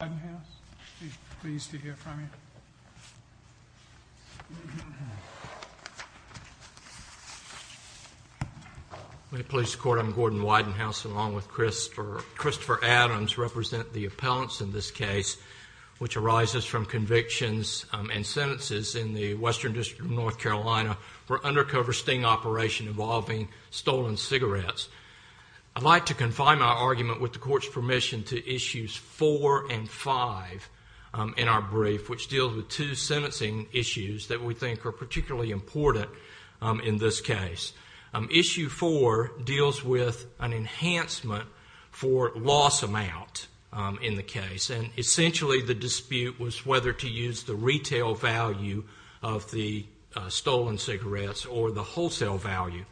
Gordon Widenhouse, we're pleased to hear from you. I'm Gordon Widenhouse, along with Christopher Adams, who represent the appellants in this case, which arises from convictions and sentences in the Western District of North Carolina for undercover sting operation involving stolen cigarettes. I'd like to confine my argument, with the Court's permission, to Issues 4 and 5 in our brief, which deal with two sentencing issues that we think are particularly important in this case. Issue 4 deals with an enhancement for loss amount in the case, and essentially the dispute was whether to use the retail value of the stolen cigarettes or the wholesale value.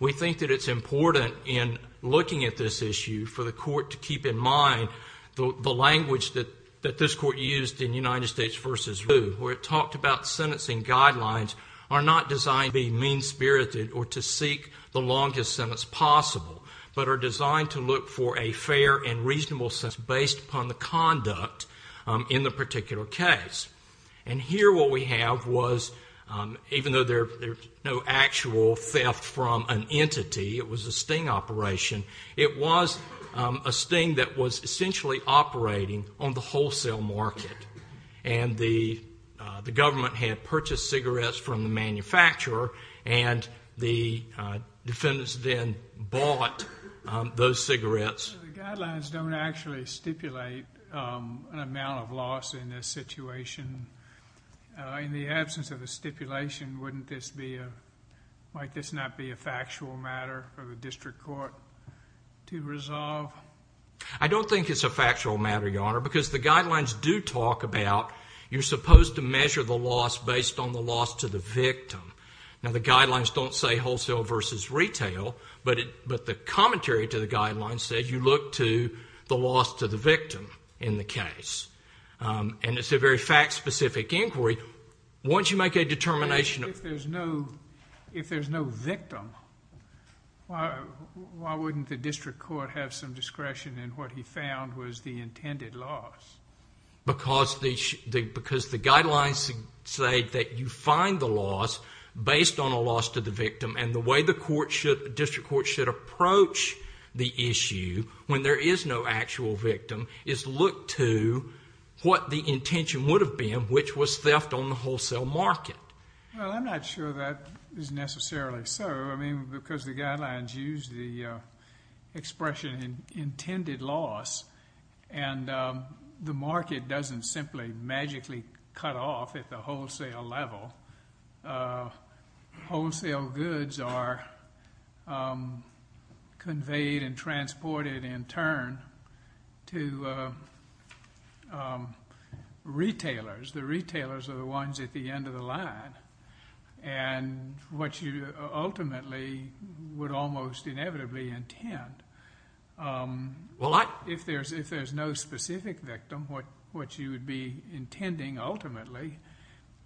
We think that it's important in looking at this issue for the Court to keep in mind the language that this Court used in United States v. Root, where it talked about sentencing guidelines are not designed to be mean-spirited or to seek the longest sentence possible, but are designed to look for a fair and reasonable sentence based upon the conduct in the particular case. And here what we have was, even though there's no actual theft from an entity, it was a sting operation, it was a sting that was essentially operating on the wholesale market. And the government had purchased cigarettes from the manufacturer, and the defendants then bought those cigarettes. The guidelines don't actually stipulate an amount of loss in this situation. In the absence of a stipulation, wouldn't this be a, might this not be a factual matter for the District Court to resolve? I don't think it's a factual matter, Your Honor, because the guidelines do talk about you're supposed to measure the loss based on the loss to the victim. Now, the guidelines don't say wholesale v. retail, but the commentary to the guidelines says you look to the loss to the victim in the case. And it's a very fact-specific inquiry. Once you make a determination... If there's no victim, why wouldn't the District Court have some discretion in what he found was the intended loss? Because the guidelines say that you find the loss based on a loss to the victim, and the way the District Court should approach the issue when there is no actual victim is look to what the intention would have been, which was theft on the wholesale market. Well, I'm not sure that is necessarily so. I mean, because the guidelines use the expression intended loss, and the market doesn't simply magically cut off at the wholesale level. Wholesale goods are conveyed and transported in turn to retailers. The retailers are the ones at the end of the line. And what you ultimately would almost inevitably intend, if there's no specific victim, what you would be intending ultimately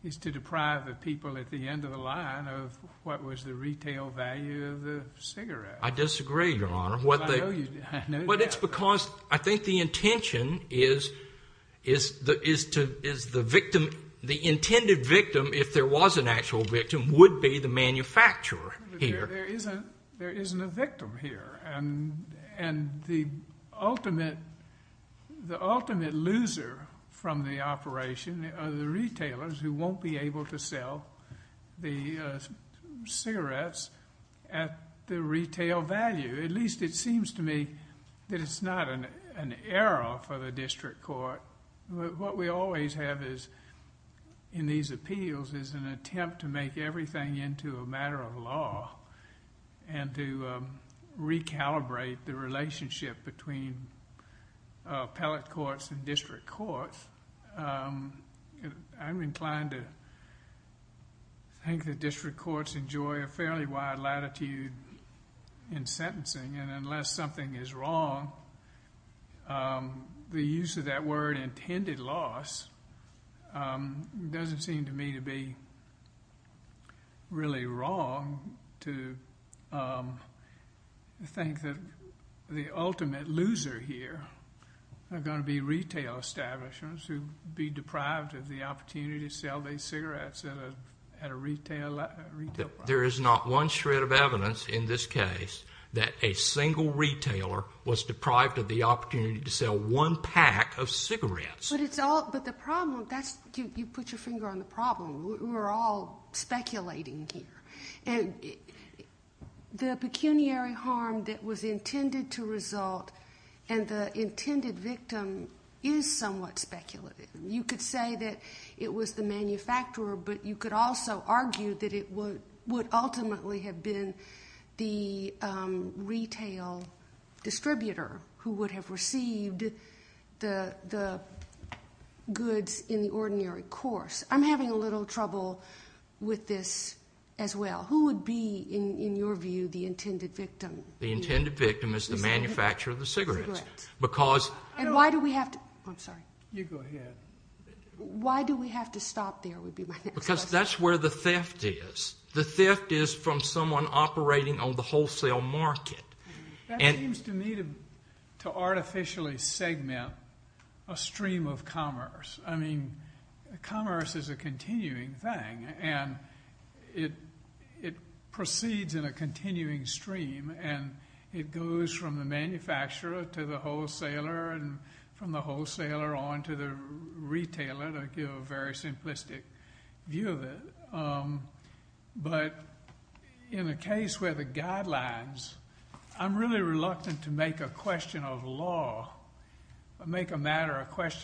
is to deprive the people at the end of the line of what was the retail value of the cigarette. I disagree, Your Honor. But it's because I think the intention is the intended victim, if there was an actual victim, would be the manufacturer here. There isn't a victim here. And the ultimate loser from the operation are the retailers who won't be able to sell the cigarettes at the retail value. At least it seems to me that it's not an error for the District Court. What we always have in these appeals is an attempt to make everything into a matter of law and to recalibrate the relationship between appellate courts and district courts. I'm inclined to think that district courts enjoy a fairly wide latitude in sentencing. And unless something is wrong, the use of that word intended loss doesn't seem to me to be really wrong to think that the ultimate loser here are going to be retail establishments who would be deprived of the opportunity to sell their cigarettes at a retail value. There is not one shred of evidence in this case that a single retailer was deprived of the opportunity to sell one pack of cigarettes. But you put your finger on the problem. We're all speculating here. The pecuniary harm that was intended to result and the intended victim is somewhat speculative. You could say that it was the manufacturer, but you could also argue that it would ultimately have been the retail distributor who would have received the goods in the ordinary course. I'm having a little trouble with this as well. Who would be, in your view, the intended victim? The intended victim is the manufacturer of the cigarettes. And why do we have to stop there would be my next question. Because that's where the theft is. The theft is from someone operating on the wholesale market. That seems to me to artificially segment a stream of commerce. I mean, commerce is a continuing thing, and it proceeds in a continuing stream, and it goes from the manufacturer to the wholesaler and from the wholesaler on to the retailer to give a very simplistic view of it. But in the case where the guidelines, I'm really reluctant to make a matter a question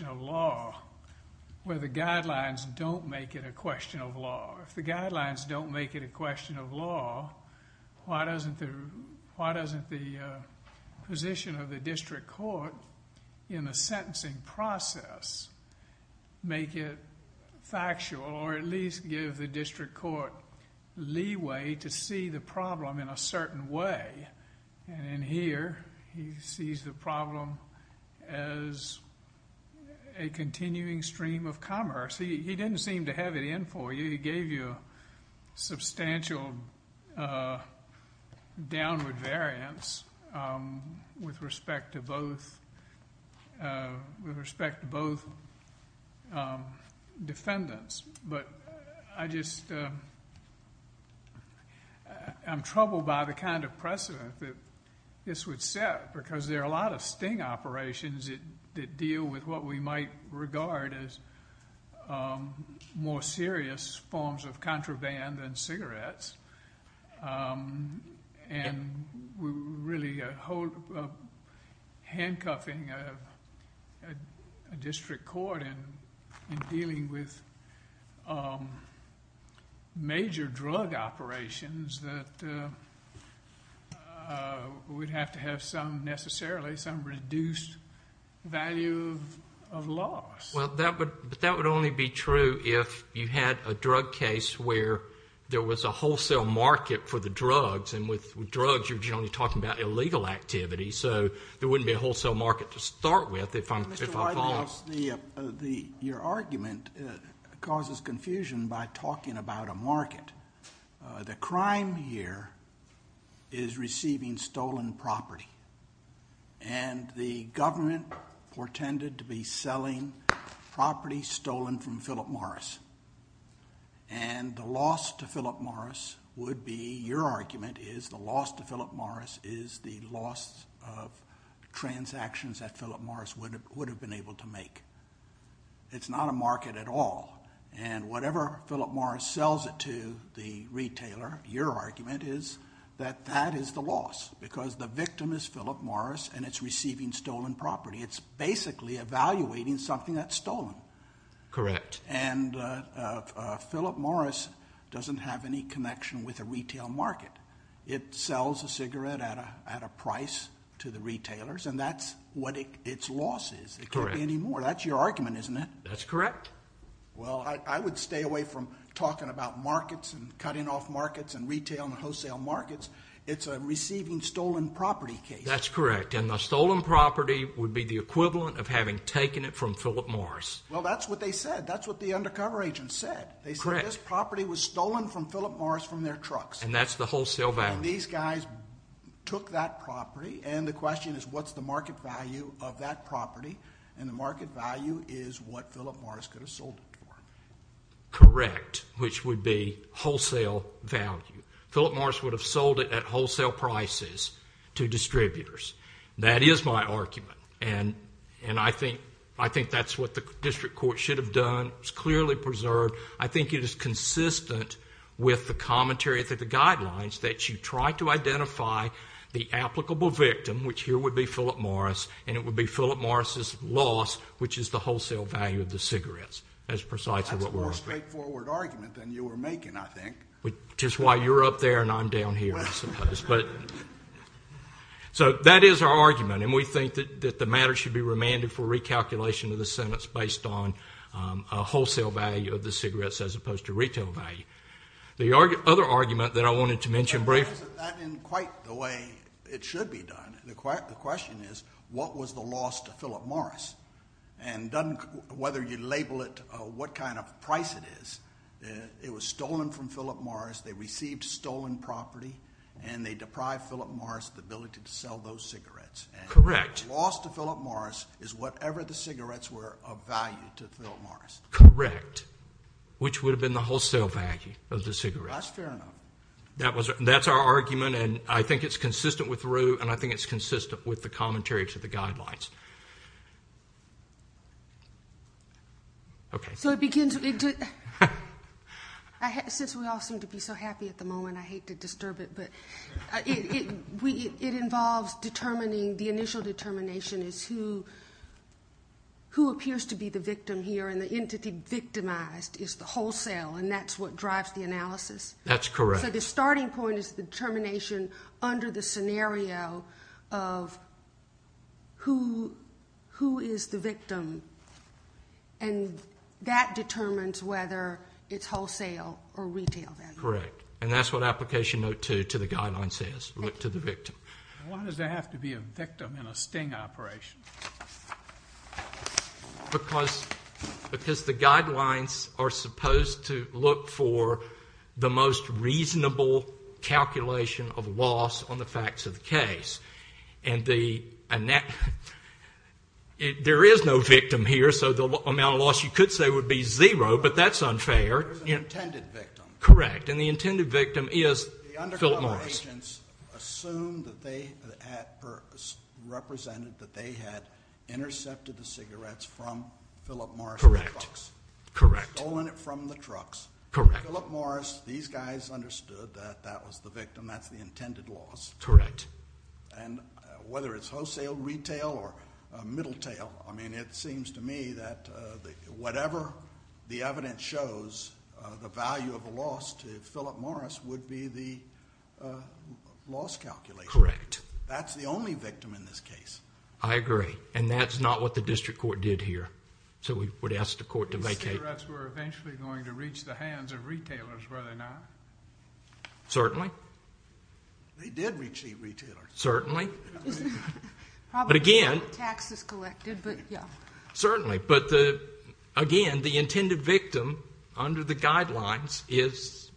of law where the guidelines don't make it a question of law. If the guidelines don't make it a question of law, why doesn't the position of the district court in the sentencing process make it factual or at least give the district court leeway to see the problem in a certain way? And here he sees the problem as a continuing stream of commerce. He didn't seem to have it in for you. He gave you a substantial downward variance with respect to both defendants. But I just am troubled by the kind of precedent that this would set because there are a lot of sting operations that deal with what we might regard as more serious forms of contraband than cigarettes. And we're really handcuffing a district court in dealing with major drug operations that would have to have some necessarily, some reduced value of loss. Well, but that would only be true if you had a drug case where there was a wholesale market for the drugs. And with drugs, you're generally talking about illegal activity. So there wouldn't be a wholesale market to start with if I follow. Mr. Weidenhoff, your argument causes confusion by talking about a market. The crime here is receiving stolen property. And the government portended to be selling property stolen from Philip Morris. And the loss to Philip Morris would be, your argument is, the loss to Philip Morris is the loss of transactions that Philip Morris would have been able to make. It's not a market at all. And whatever Philip Morris sells it to, the retailer, your argument is that that is the loss because the victim is Philip Morris and it's receiving stolen property. It's basically evaluating something that's stolen. Correct. And Philip Morris doesn't have any connection with a retail market. It sells a cigarette at a price to the retailers, and that's what its loss is. It can't be any more. That's your argument, isn't it? That's correct. Well, I would stay away from talking about markets and cutting off markets and retail and wholesale markets. It's a receiving stolen property case. That's correct. And the stolen property would be the equivalent of having taken it from Philip Morris. Well, that's what they said. That's what the undercover agents said. They said this property was stolen from Philip Morris from their trucks. And that's the wholesale value. And these guys took that property, and the question is what's the market value of that property? And the market value is what Philip Morris could have sold it for. Correct, which would be wholesale value. Philip Morris would have sold it at wholesale prices to distributors. That is my argument, and I think that's what the district court should have done. It's clearly preserved. I think it is consistent with the commentary of the guidelines that you try to identify the applicable victim, which here would be Philip Morris, and it would be Philip Morris' loss, which is the wholesale value of the cigarettes. That's precisely what we're arguing. That's a more straightforward argument than you were making, I think. Which is why you're up there and I'm down here, I suppose. So that is our argument, and we think that the matter should be remanded for recalculation of the sentence based on a wholesale value of the cigarettes as opposed to retail value. The other argument that I wanted to mention briefly is that that isn't quite the way it should be done. The question is what was the loss to Philip Morris? And whether you label it what kind of price it is, it was stolen from Philip Morris, they received stolen property, and they deprived Philip Morris of the ability to sell those cigarettes. Correct. The loss to Philip Morris is whatever the cigarettes were of value to Philip Morris. Correct. Which would have been the wholesale value of the cigarettes. That's fair enough. That's our argument, and I think it's consistent with Roe, and I think it's consistent with the commentary to the guidelines. Okay. Since we all seem to be so happy at the moment, I hate to disturb it, but it involves determining the initial determination as to who appears to be the victim here, and the entity victimized is the wholesale, and that's what drives the analysis. That's correct. So the starting point is the determination under the scenario of who is the victim, and that determines whether it's wholesale or retail value. Correct. And that's what Application Note 2 to the guidelines says, look to the victim. Why does there have to be a victim in a sting operation? Because the guidelines are supposed to look for the most reasonable calculation of loss on the facts of the case. And there is no victim here, so the amount of loss you could say would be zero, but that's unfair. There's an intended victim. Correct. And the intended victim is Philip Morris. The undercover agents assumed that they had represented that they had intercepted the cigarettes from Philip Morris. Correct. Correct. Stolen it from the trucks. Correct. Philip Morris, these guys understood that that was the victim. That's the intended loss. Correct. And whether it's wholesale, retail, or middletail, I mean it seems to me that whatever the evidence shows, the value of a loss to Philip Morris would be the loss calculation. Correct. That's the only victim in this case. I agree, and that's not what the district court did here. So we would ask the court to vacate. The cigarettes were eventually going to reach the hands of retailers, were they not? Certainly. They did reach the retailers. Certainly. But again. Taxes collected, but yeah. Certainly. But again, the intended victim under the guidelines is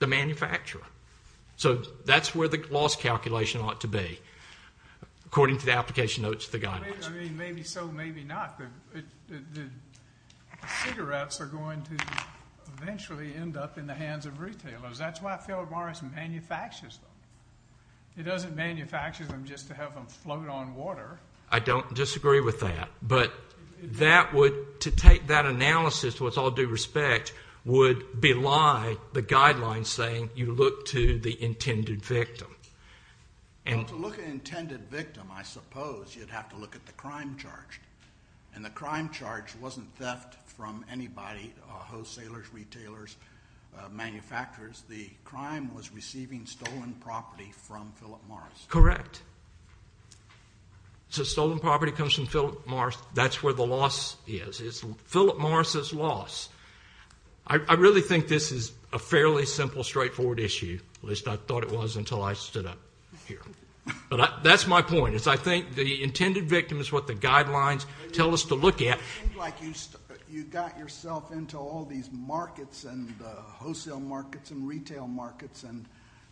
the manufacturer. So that's where the loss calculation ought to be, according to the application notes of the guidelines. I mean, maybe so, maybe not. The cigarettes are going to eventually end up in the hands of retailers. That's why Philip Morris manufactures them. He doesn't manufacture them just to have them float on water. I don't disagree with that. But that would, to take that analysis with all due respect, would belie the guidelines saying you look to the intended victim. Well, to look at an intended victim, I suppose, you'd have to look at the crime charge. And the crime charge wasn't theft from anybody, wholesalers, retailers, manufacturers. The crime was receiving stolen property from Philip Morris. Correct. So stolen property comes from Philip Morris. That's where the loss is. It's Philip Morris's loss. I really think this is a fairly simple, straightforward issue. At least I thought it was until I stood up here. But that's my point. I think the intended victim is what the guidelines tell us to look at. It seems like you got yourself into all these markets and wholesale markets and retail markets and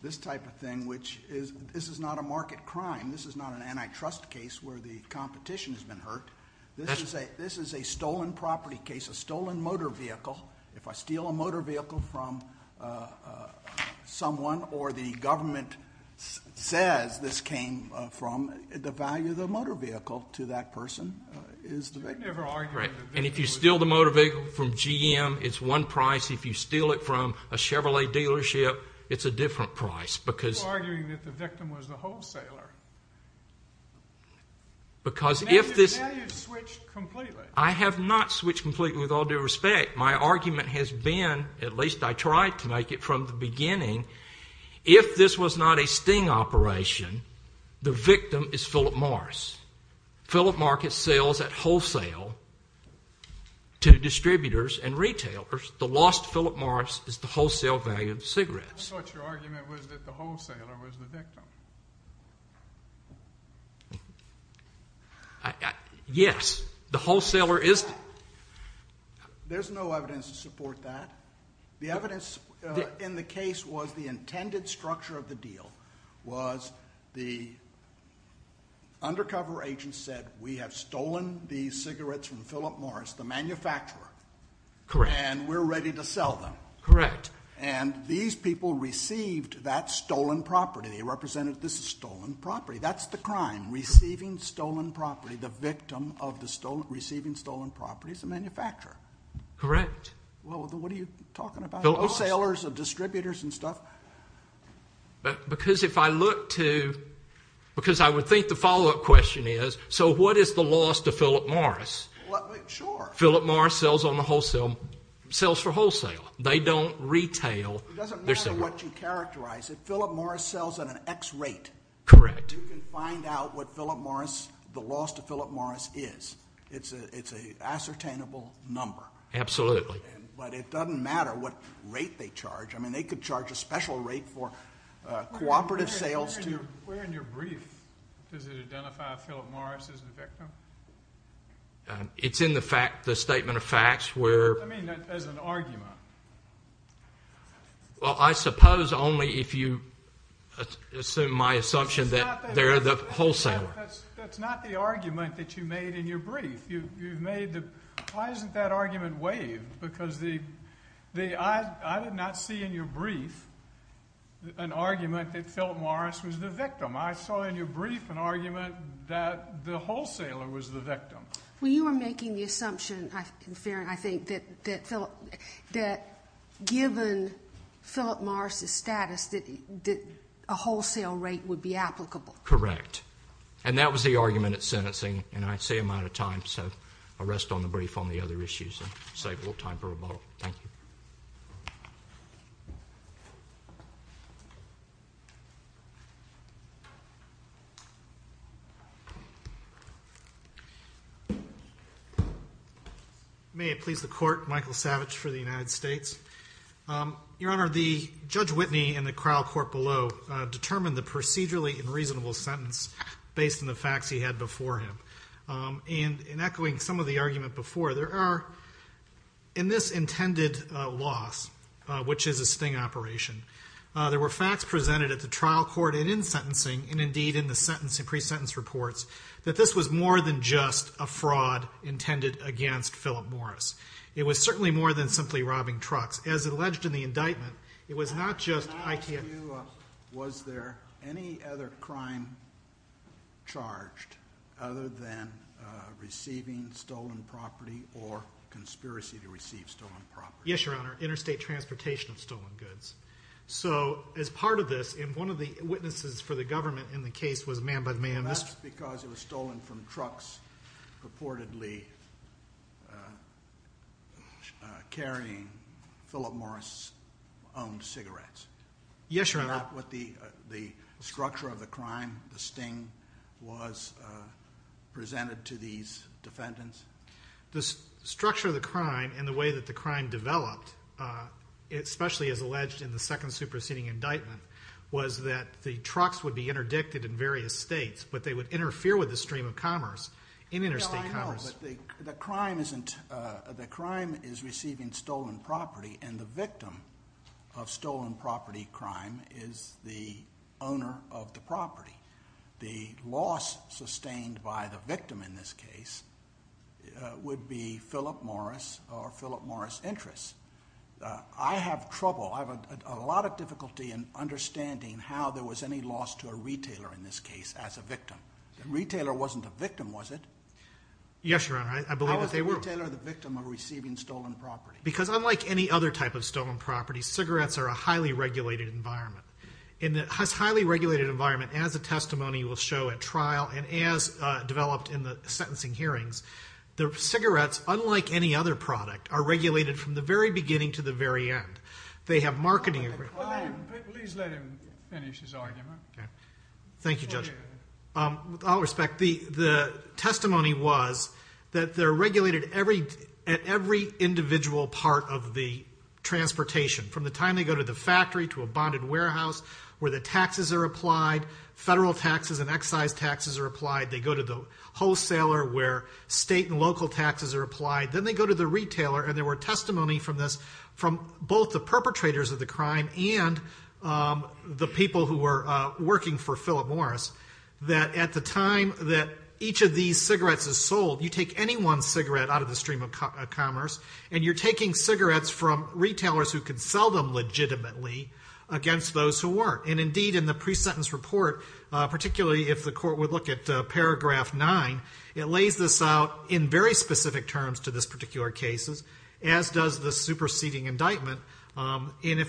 this type of thing, which this is not a market crime. This is not an antitrust case where the competition has been hurt. This is a stolen property case, a stolen motor vehicle. If I steal a motor vehicle from someone or the government says this came from, the value of the motor vehicle to that person is the victim. And if you steal the motor vehicle from GM, it's one price. If you steal it from a Chevrolet dealership, it's a different price. You're arguing that the victim was the wholesaler. Now you've switched completely. I have not switched completely, with all due respect. My argument has been, at least I tried to make it from the beginning, if this was not a sting operation, the victim is Philip Morris. Philip Morris sells at wholesale to distributors and retailers. The lost Philip Morris is the wholesale value of the cigarettes. I thought your argument was that the wholesaler was the victim. Yes. The wholesaler is the victim. There's no evidence to support that. The evidence in the case was the intended structure of the deal, was the undercover agent said, we have stolen these cigarettes from Philip Morris, the manufacturer. Correct. And we're ready to sell them. Correct. And these people received that stolen property. They represented this as stolen property. That's the crime, receiving stolen property. The victim of receiving stolen property is the manufacturer. Correct. What are you talking about? Wholesalers and distributors and stuff. Because if I look to, because I would think the follow-up question is, so what is the loss to Philip Morris? Sure. Philip Morris sells for wholesale. They don't retail. It doesn't matter what you characterize. If Philip Morris sells at an X rate, Correct. you can find out what the loss to Philip Morris is. It's an ascertainable number. Absolutely. But it doesn't matter what rate they charge. I mean, they could charge a special rate for cooperative sales. Where in your brief does it identify Philip Morris as the victim? It's in the statement of facts where. I mean, as an argument. Well, I suppose only if you assume my assumption that they're the wholesaler. That's not the argument that you made in your brief. Why isn't that argument waived? Because I did not see in your brief an argument that Philip Morris was the victim. I saw in your brief an argument that the wholesaler was the victim. Well, you were making the assumption, in fairness, I think, that given Philip Morris' status that a wholesale rate would be applicable. Correct. And that was the argument at sentencing. And I'd say I'm out of time, so I'll rest on the brief on the other issues and save a little time for rebuttal. Thank you. May it please the Court. Michael Savage for the United States. Your Honor, Judge Whitney in the trial court below determined the procedurally unreasonable sentence based on the facts he had before him. And in echoing some of the argument before, there are, in this intended loss, which is a sting operation, there were facts presented at the trial court and in sentencing, and indeed in the sentence and pre-sentence reports, that this was more than just a fraud intended against Philip Morris. It was certainly more than simply robbing trucks. As alleged in the indictment, it was not just ITM. Your Honor, can I ask you, was there any other crime charged other than receiving stolen property or conspiracy to receive stolen property? Yes, Your Honor, interstate transportation of stolen goods. So as part of this, and one of the witnesses for the government in the case was man by man. And that's because it was stolen from trucks purportedly carrying Philip Morris' owned cigarettes. Yes, Your Honor. Is that what the structure of the crime, the sting, was presented to these defendants? The structure of the crime and the way that the crime developed, especially as alleged in the second superseding indictment, was that the trucks would be interdicted in various states, but they would interfere with the stream of commerce in interstate commerce. No, I know, but the crime is receiving stolen property, and the victim of stolen property crime is the owner of the property. The loss sustained by the victim in this case would be Philip Morris or Philip Morris' interests. I have trouble, I have a lot of difficulty in understanding how there was any loss to a retailer in this case as a victim. The retailer wasn't a victim, was it? Yes, Your Honor, I believe that they were. How is the retailer the victim of receiving stolen property? Because unlike any other type of stolen property, cigarettes are a highly regulated environment. And this highly regulated environment, as the testimony will show at trial and as developed in the sentencing hearings, the cigarettes, unlike any other product, are regulated from the very beginning to the very end. They have marketing agreements. Please let him finish his argument. Thank you, Judge. With all respect, the testimony was that they're regulated at every individual part of the transportation. From the time they go to the factory, to a bonded warehouse, where the taxes are applied, federal taxes and excise taxes are applied. They go to the wholesaler where state and local taxes are applied. Then they go to the retailer. And there were testimony from this, from both the perpetrators of the crime and the people who were working for Philip Morris, that at the time that each of these cigarettes is sold, you take any one cigarette out of the stream of commerce, and you're taking cigarettes from retailers who could sell them legitimately against those who weren't. And indeed, in the pre-sentence report, particularly if the court would look at paragraph 9, it lays this out in very specific terms to this particular case, as does the superseding indictment. And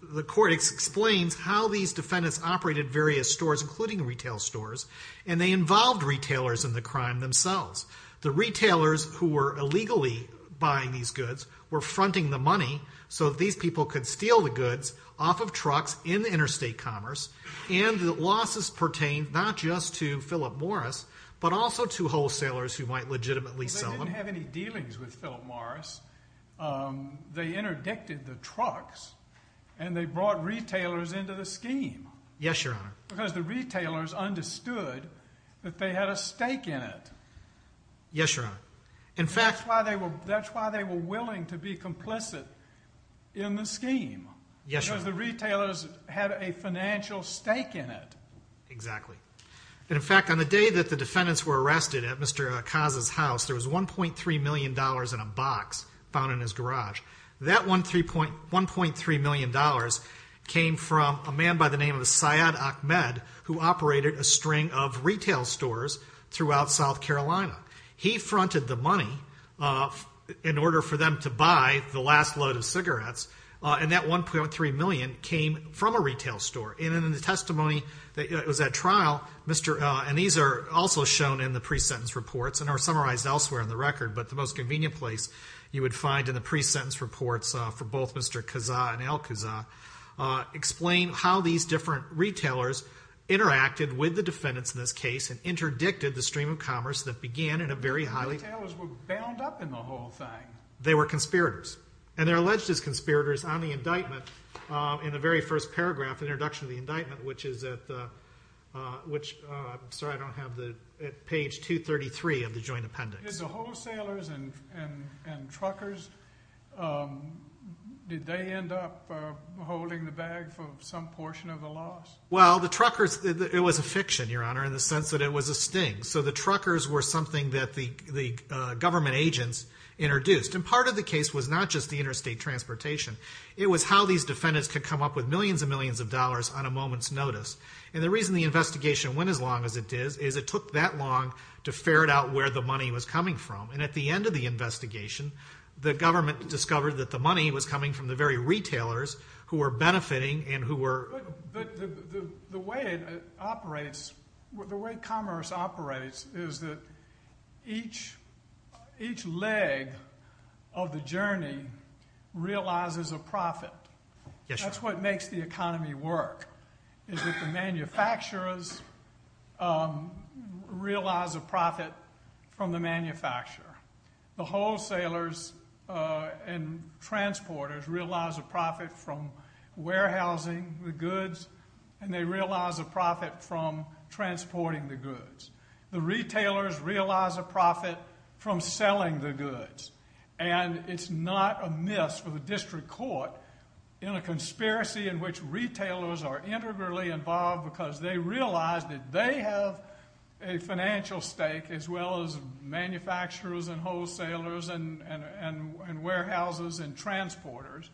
the court explains how these defendants operated various stores, including retail stores, and they involved retailers in the crime themselves. The retailers who were illegally buying these goods were fronting the money so that these people could steal the goods off of trucks in the interstate commerce. And the losses pertain not just to Philip Morris, but also to wholesalers who might legitimately sell them. They didn't have any dealings with Philip Morris. They interdicted the trucks, and they brought retailers into the scheme. Yes, Your Honor. Because the retailers understood that they had a stake in it. Yes, Your Honor. That's why they were willing to be complicit in the scheme. Yes, Your Honor. Because the retailers had a financial stake in it. Exactly. And, in fact, on the day that the defendants were arrested at Mr. Acasa's house, there was $1.3 million in a box found in his garage. That $1.3 million came from a man by the name of Syed Ahmed, who operated a string of retail stores throughout South Carolina. He fronted the money in order for them to buy the last load of cigarettes, and that $1.3 million came from a retail store. And in the testimony that was at trial, and these are also shown in the pre-sentence reports and are summarized elsewhere in the record, but the most convenient place you would find in the pre-sentence reports for both Mr. Acasa and Al Acasa, explain how these different retailers interacted with the defendants in this case and interdicted the stream of commerce that began in a very highly- The retailers were bound up in the whole thing. They were conspirators, and they're alleged as conspirators on the indictment. In the very first paragraph, the introduction of the indictment, which is at page 233 of the joint appendix. Did the wholesalers and truckers, did they end up holding the bag for some portion of the loss? Well, the truckers, it was a fiction, Your Honor, in the sense that it was a sting. So the truckers were something that the government agents introduced. And part of the case was not just the interstate transportation. It was how these defendants could come up with millions and millions of dollars on a moment's notice. And the reason the investigation went as long as it did is it took that long to ferret out where the money was coming from. And at the end of the investigation, the government discovered that the money was coming from the very retailers who were benefiting and who were- But the way it operates, the way commerce operates, is that each leg of the journey realizes a profit. That's what makes the economy work, is that the manufacturers realize a profit from the manufacturer. The wholesalers and transporters realize a profit from warehousing the goods, and they realize a profit from transporting the goods. The retailers realize a profit from selling the goods. And it's not amiss for the district court in a conspiracy in which retailers are integrally involved because they realize that they have a financial stake as well as manufacturers and wholesalers and warehouses and transporters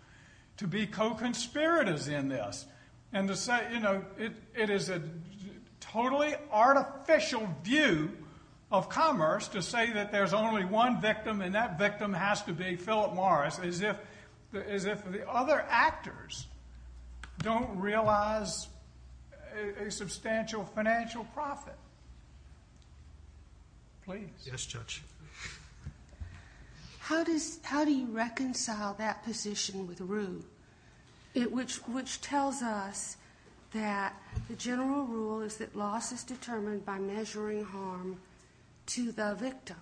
to be co-conspirators in this. And to say, you know, it is a totally artificial view of commerce to say that there's only one victim and that victim has to be Philip Morris as if the other actors don't realize a substantial financial profit. Please. Yes, Judge. How do you reconcile that position with Rue, which tells us that the general rule is that loss is determined by measuring harm to the victim?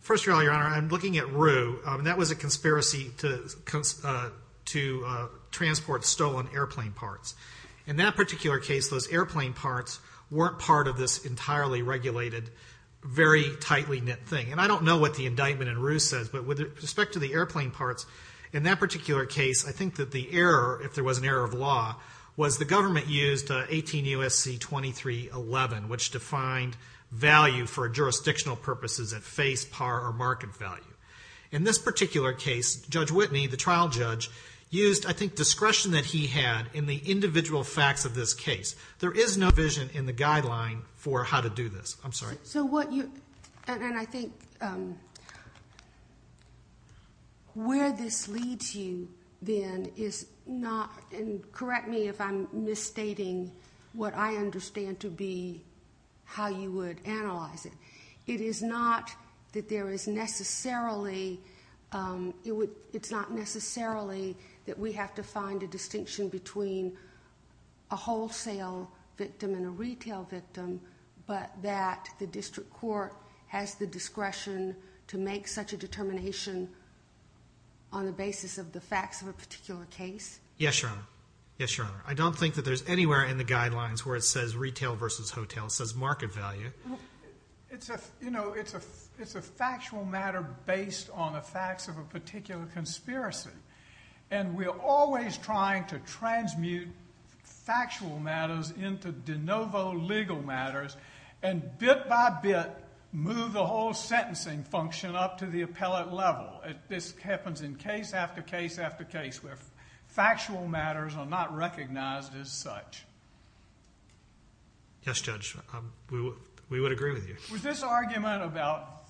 First of all, Your Honor, I'm looking at Rue, and that was a conspiracy to transport stolen airplane parts. In that particular case, those airplane parts weren't part of this entirely regulated, very tightly knit thing. And I don't know what the indictment in Rue says, but with respect to the airplane parts, in that particular case, I think that the error, if there was an error of law, was the government used 18 U.S.C. 2311, which defined value for jurisdictional purposes at face, par, or market value. In this particular case, Judge Whitney, the trial judge, used, I think, discretion that he had in the individual facts of this case. There is no vision in the guideline for how to do this. I'm sorry. And I think where this leads you, then, is not, and correct me if I'm misstating what I understand to be how you would analyze it. It is not that there is necessarily, it's not necessarily that we have to find a distinction between a wholesale victim and a retail victim, but that the district court has the discretion to make such a determination on the basis of the facts of a particular case? Yes, Your Honor. Yes, Your Honor. I don't think that there's anywhere in the guidelines where it says retail versus hotel. It says market value. It's a factual matter based on the facts of a particular conspiracy. And we're always trying to transmute factual matters into de novo legal matters and bit by bit move the whole sentencing function up to the appellate level. This happens in case after case after case where factual matters are not recognized as such. Yes, Judge. We would agree with you. Was this argument about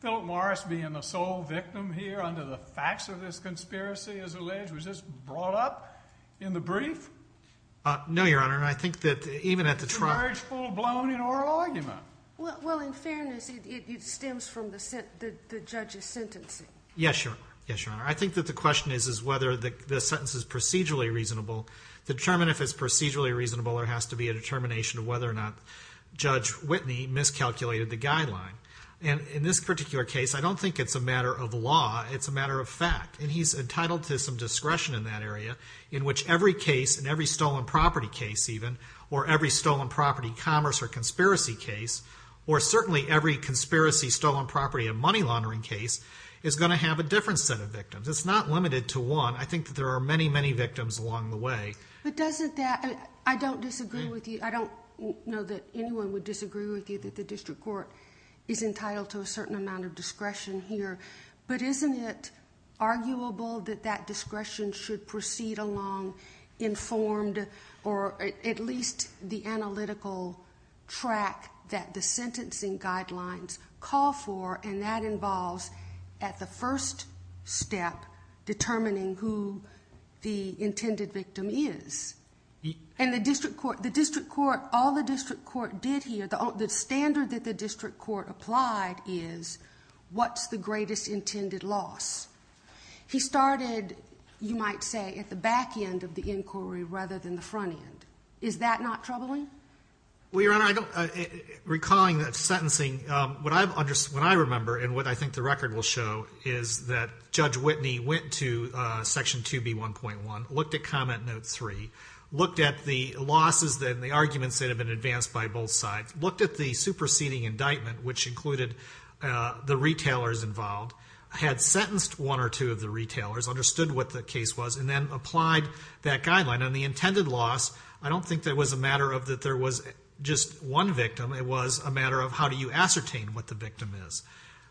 Philip Morris being the sole victim here under the facts of this conspiracy, as alleged, was this brought up in the brief? No, Your Honor. I think that even at the trial— It emerged full-blown in oral argument. Well, in fairness, it stems from the judge's sentencing. Yes, Your Honor. Yes, Your Honor. I think that the question is whether the sentence is procedurally reasonable. To determine if it's procedurally reasonable, there has to be a determination of whether or not Judge Whitney miscalculated the guideline. And in this particular case, I don't think it's a matter of law. It's a matter of fact. And he's entitled to some discretion in that area, in which every case and every stolen property case, even, or every stolen property commerce or conspiracy case, or certainly every conspiracy, stolen property, and money laundering case is going to have a different set of victims. It's not limited to one. I think that there are many, many victims along the way. But doesn't that—I don't disagree with you. I don't know that anyone would disagree with you that the district court is entitled to a certain amount of discretion here. But isn't it arguable that that discretion should proceed along informed or at least the analytical track that the sentencing guidelines call for, and that involves at the first step determining who the intended victim is? And the district court—all the district court did here, the standard that the district court applied is what's the greatest intended loss? He started, you might say, at the back end of the inquiry rather than the front end. Is that not troubling? Well, Your Honor, recalling that sentencing, what I remember and what I think the record will show is that Judge Whitney went to Section 2B1.1, looked at Comment Note 3, looked at the losses and the arguments that had been advanced by both sides, looked at the superseding indictment, which included the retailers involved, had sentenced one or two of the retailers, understood what the case was, and then applied that guideline. And the intended loss, I don't think that it was a matter of that there was just one victim. It was a matter of how do you ascertain what the victim is?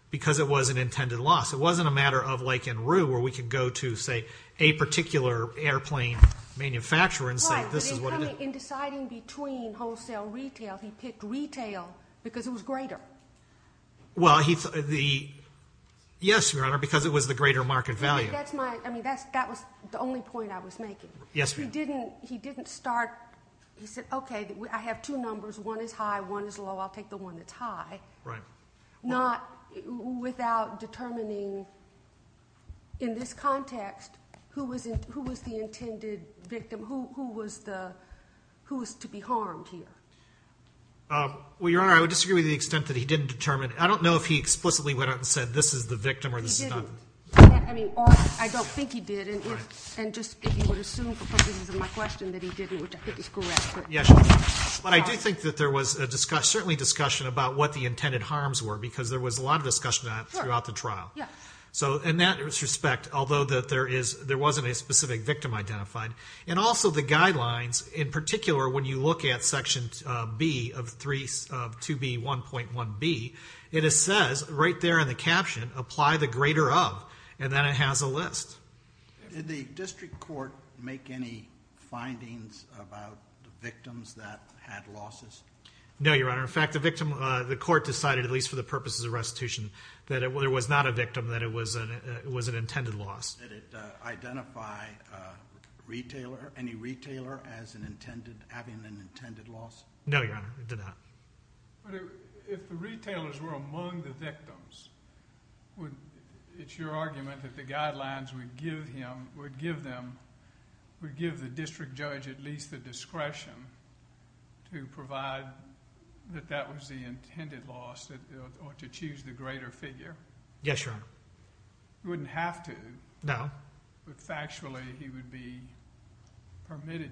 Because it was an intended loss. It wasn't a matter of Lake and Rue where we could go to, say, a particular airplane manufacturer and say this is what it is. Right, but in deciding between wholesale and retail, he picked retail because it was greater. Well, yes, Your Honor, because it was the greater market value. That was the only point I was making. Yes, Your Honor. He didn't start. He said, okay, I have two numbers. One is high, one is low. I'll take the one that's high. Right. Not without determining in this context who was the intended victim, who was to be harmed here. Well, Your Honor, I would disagree with the extent that he didn't determine. I don't know if he explicitly went out and said this is the victim or this is not. He didn't. I mean, I don't think he did. And just if you would assume, because this is my question, that he didn't, which I think is correct. Yes, Your Honor. But I do think that there was certainly discussion about what the intended harms were because there was a lot of discussion on it throughout the trial. Yes. So in that respect, although there wasn't a specific victim identified, and also the guidelines, in particular, when you look at Section B of 2B.1.1b, it says right there in the caption, apply the greater of, and then it has a list. Did the district court make any findings about the victims that had losses? No, Your Honor. In fact, the court decided, at least for the purposes of restitution, that it was not a victim, that it was an intended loss. Did it identify any retailer as having an intended loss? No, Your Honor, it did not. But if the retailers were among the victims, it's your argument that the guidelines would give the district judge at least the discretion to provide that that was the intended loss or to choose the greater figure? Yes, Your Honor. He wouldn't have to. No. But factually, he would be permitted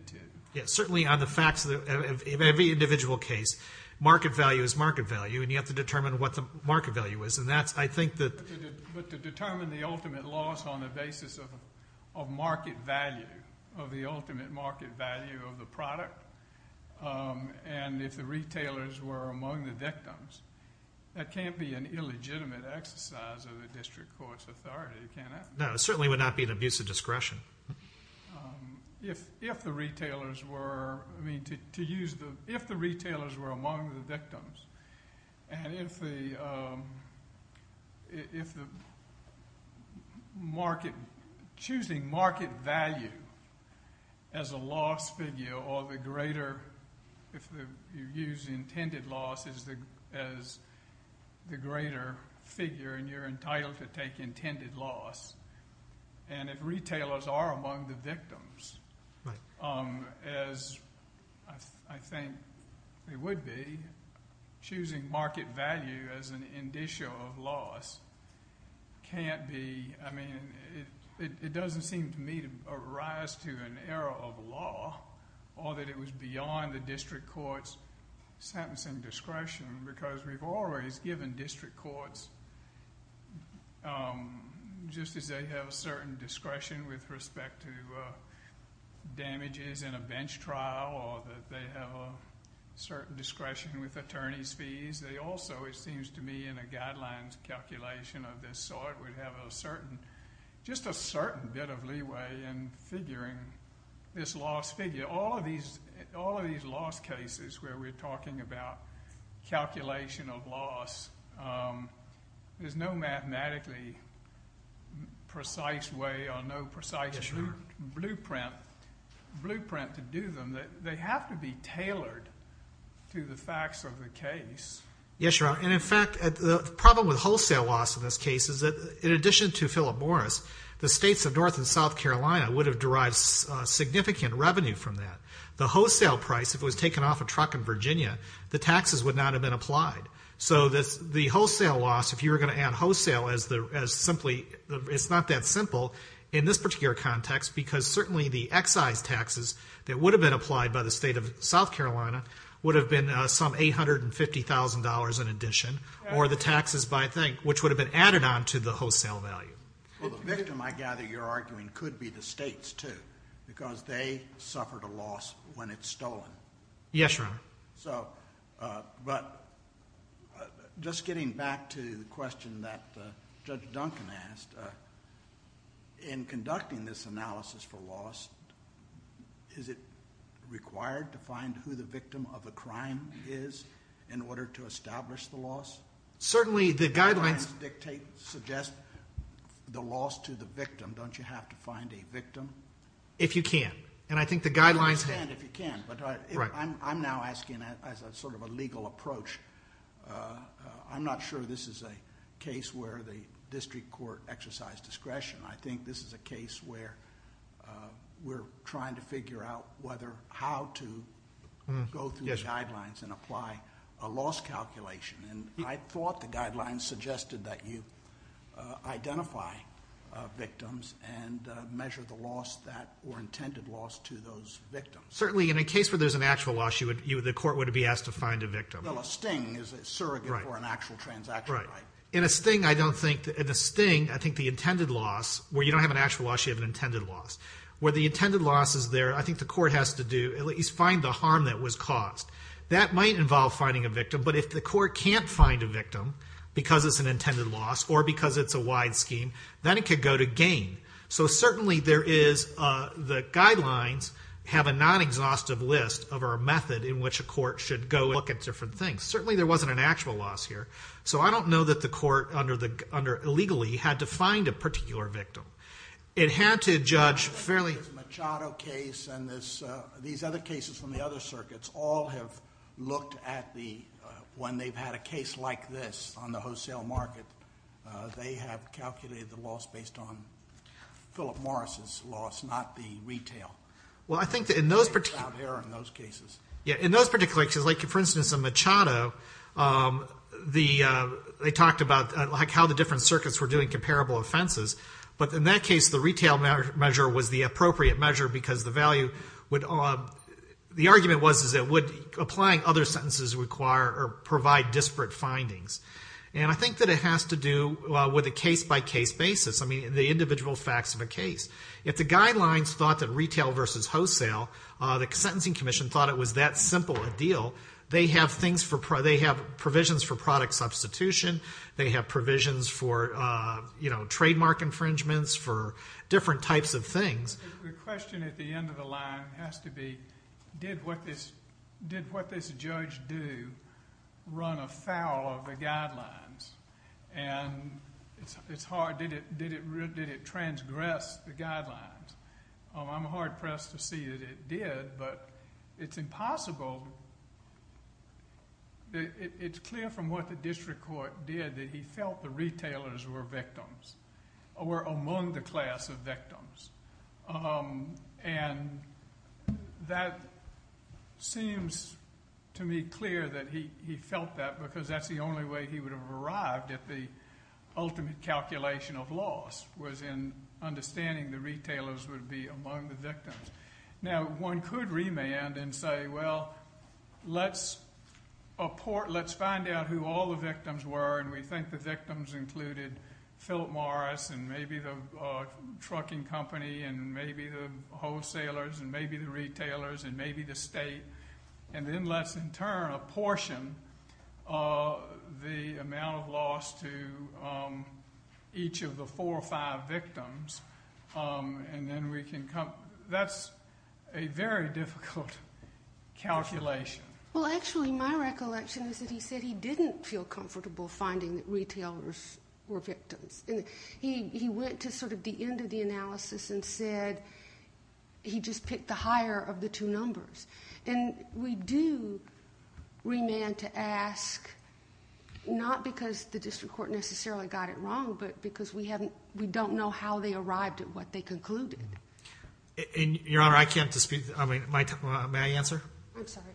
to. Certainly, on the facts of every individual case, market value is market value, and you have to determine what the market value is. But to determine the ultimate loss on the basis of market value, of the ultimate market value of the product, and if the retailers were among the victims, that can't be an illegitimate exercise of the district court's authority, can it? No, it certainly would not be an abuse of discretion. If the retailers were among the victims, and if choosing market value as a loss figure or the greater, if you use intended loss as the greater figure and you're entitled to take intended loss, and if retailers are among the victims, as I think they would be, choosing market value as an indicial of loss can't be... I mean, it doesn't seem to me to rise to an era of law or that it was beyond the district court's sentencing discretion because we've always given district courts, just as they have a certain discretion with respect to damages in a bench trial or that they have a certain discretion with attorney's fees, they also, it seems to me, in a guidelines calculation of this sort, would have just a certain bit of leeway in figuring this loss figure. All of these loss cases where we're talking about calculation of loss, there's no mathematically precise way or no precise blueprint to do them. They have to be tailored to the facts of the case. Yes, Your Honor, and in fact, the problem with wholesale loss in this case is that in addition to Philip Morris, the states of North and South Carolina would have derived significant revenue from that. The wholesale price, if it was taken off a truck in Virginia, the taxes would not have been applied. So the wholesale loss, if you were going to add wholesale as simply, it's not that simple in this particular context because certainly the excise taxes that would have been applied by the state of South Carolina would have been some $850,000 in addition or the taxes which would have been added on to the wholesale value. The victim, I gather you're arguing, could be the states too because they suffered a loss when it's stolen. Yes, Your Honor. But just getting back to the question that Judge Duncan asked, in conducting this analysis for loss, is it required to find who the victim of a crime is in order to establish the loss? Certainly the guidelines suggest the loss to the victim. Don't you have to find a victim? If you can. I understand if you can, but I'm now asking as sort of a legal approach. I'm not sure this is a case where the district court exercised discretion. I think this is a case where we're trying to figure out how to go through the guidelines and apply a loss calculation. I thought the guidelines suggested that you identify victims and measure the loss or intended loss to those victims. Certainly in a case where there's an actual loss, the court would be asked to find a victim. Well, a sting is a surrogate for an actual transaction, right? In a sting, I think the intended loss, where you don't have an actual loss, you have an intended loss. Where the intended loss is there, I think the court has to do at least find the harm that was caused. That might involve finding a victim, but if the court can't find a victim because it's an intended loss or because it's a wide scheme, then it could go to gain. So certainly the guidelines have a non-exhaustive list of our method in which a court should go and look at different things. Certainly there wasn't an actual loss here, so I don't know that the court illegally had to find a particular victim. It had to judge fairly... The Machado case and these other cases from the other circuits all have looked at the... When they've had a case like this on the wholesale market, they have calculated the loss based on Philip Morris's loss, not the retail. Well, I think in those particular cases... Yeah, in those particular cases, like, for instance, in Machado, they talked about how the different circuits were doing comparable offenses, but in that case the retail measure was the appropriate measure because the value would... The argument was it would, applying other sentences, require or provide disparate findings. And I think that it has to do with a case-by-case basis, I mean the individual facts of a case. If the guidelines thought that retail versus wholesale, the Sentencing Commission thought it was that simple a deal, they have provisions for product substitution, they have provisions for trademark infringements, for different types of things. The question at the end of the line has to be, did what this judge do run afoul of the guidelines? And it's hard. Did it transgress the guidelines? I'm hard-pressed to see that it did, but it's impossible... It's clear from what the district court did that he felt the retailers were victims, were among the class of victims. And that seems to me clear that he felt that because that's the only way he would have arrived at the ultimate calculation of loss was in understanding the retailers would be among the victims. Now, one could remand and say, well, let's find out who all the victims were, and we think the victims included Philip Morris and maybe the trucking company and maybe the wholesalers and maybe the retailers and maybe the state, and then let's, in turn, apportion the amount of loss to each of the four or five victims, and then we can come... That's a very difficult calculation. Well, actually, my recollection is that he said he didn't feel comfortable finding that retailers were victims. He went to sort of the end of the analysis and said he just picked the higher of the two numbers. And we do remand to ask, not because the district court necessarily got it wrong, but because we don't know how they arrived at what they concluded. And, Your Honor, I can't dispute... May I answer? I'm sorry.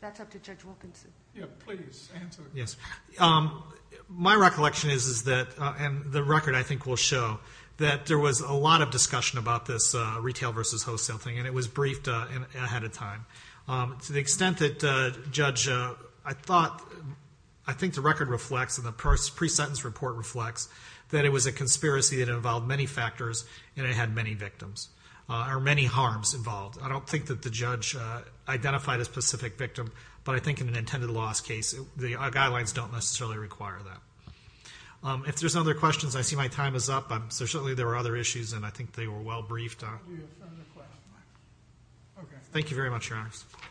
That's up to Judge Wilkinson. Yeah, please answer. Yes. My recollection is that, and the record, I think, will show, that there was a lot of discussion about this retail versus wholesale thing, and it was briefed ahead of time. To the extent that, Judge, I thought... I think the record reflects, and the pre-sentence report reflects, that it was a conspiracy that involved many factors and it had many victims, or many harms involved. I don't think that the judge identified a specific victim, but I think in an intended loss case, the guidelines don't necessarily require that. If there's other questions, I see my time is up. Certainly there were other issues, and I think they were well briefed. Thank you very much, Your Honor. Thank you.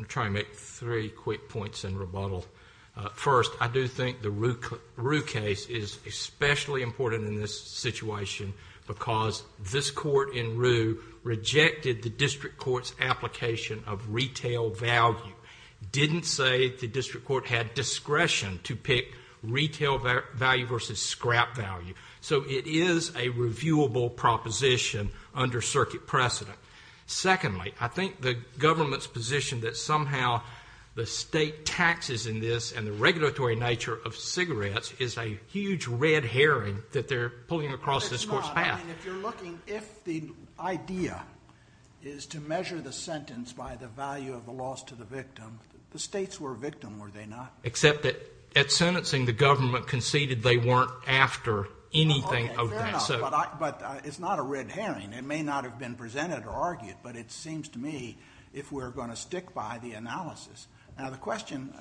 I'm going to try and make three quick points in rebuttal. First, I do think the Rue case is especially important in this situation because this court in Rue rejected the district court's application of retail value, didn't say the district court had discretion to pick retail value versus scrap value. So it is a reviewable proposition under circuit precedent. Secondly, I think the government's position that somehow the state taxes in this and the regulatory nature of cigarettes is a huge red herring that they're pulling across this court's path. It's not. I mean, if you're looking... If the idea is to measure the sentence by the value of the loss to the victim, the states were a victim, were they not? Except that at sentencing, the government conceded they weren't after anything of that. Okay, fair enough. But it's not a red herring. It may not have been presented or argued, but it seems to me if we're going to stick by the analysis. Now, the question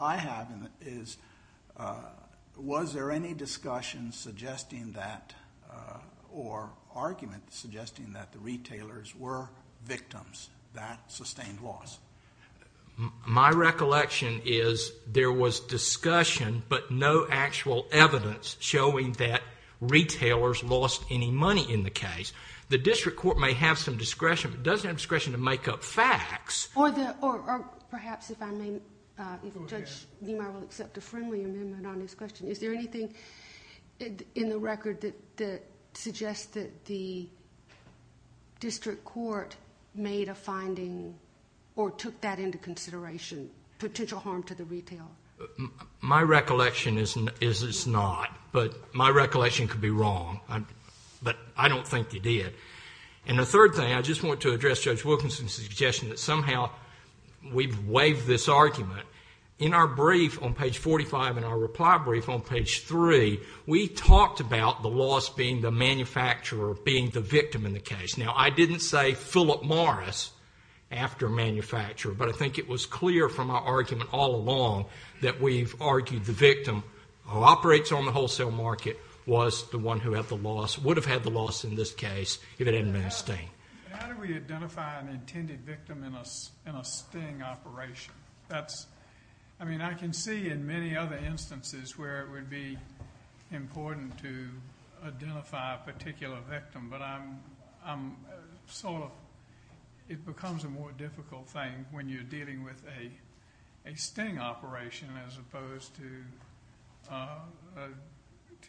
I have is, was there any discussion suggesting that or argument suggesting that the retailers were victims that sustained loss? My recollection is there was discussion but no actual evidence showing that retailers lost any money in the case. The district court may have some discretion, but it doesn't have discretion to make up facts. Or perhaps if I may... Judge Niemeyer will accept a friendly amendment on this question. Is there anything in the record that suggests that the district court made a finding or took that into consideration, potential harm to the retail? My recollection is it's not. But my recollection could be wrong. But I don't think they did. And the third thing, I just want to address Judge Wilkinson's suggestion that somehow we've waived this argument. In our brief on page 45 and our reply brief on page 3, we talked about the loss being the manufacturer being the victim in the case. Now, I didn't say Philip Morris after manufacturer, but I think it was clear from our argument all along that we've argued the victim who operates on the wholesale market was the one who would have had the loss in this case if it hadn't been a sting. How do we identify an intended victim in a sting operation? I mean, I can see in many other instances where it would be important to identify a particular victim, but I'm sort of... It becomes a more difficult thing when you're dealing with a sting operation as opposed to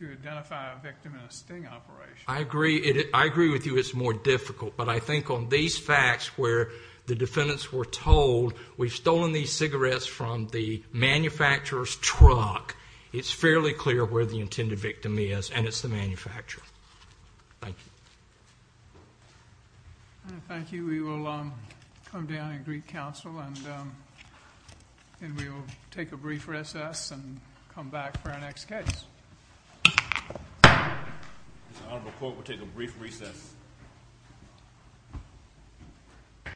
identify a victim in a sting operation. I agree with you it's more difficult, but I think on these facts where the defendants were told we've stolen these cigarettes from the manufacturer's truck, and it's the manufacturer. Thank you. Thank you. We will come down and greet counsel, and then we will take a brief recess and come back for our next case. This honorable court will take a brief recess.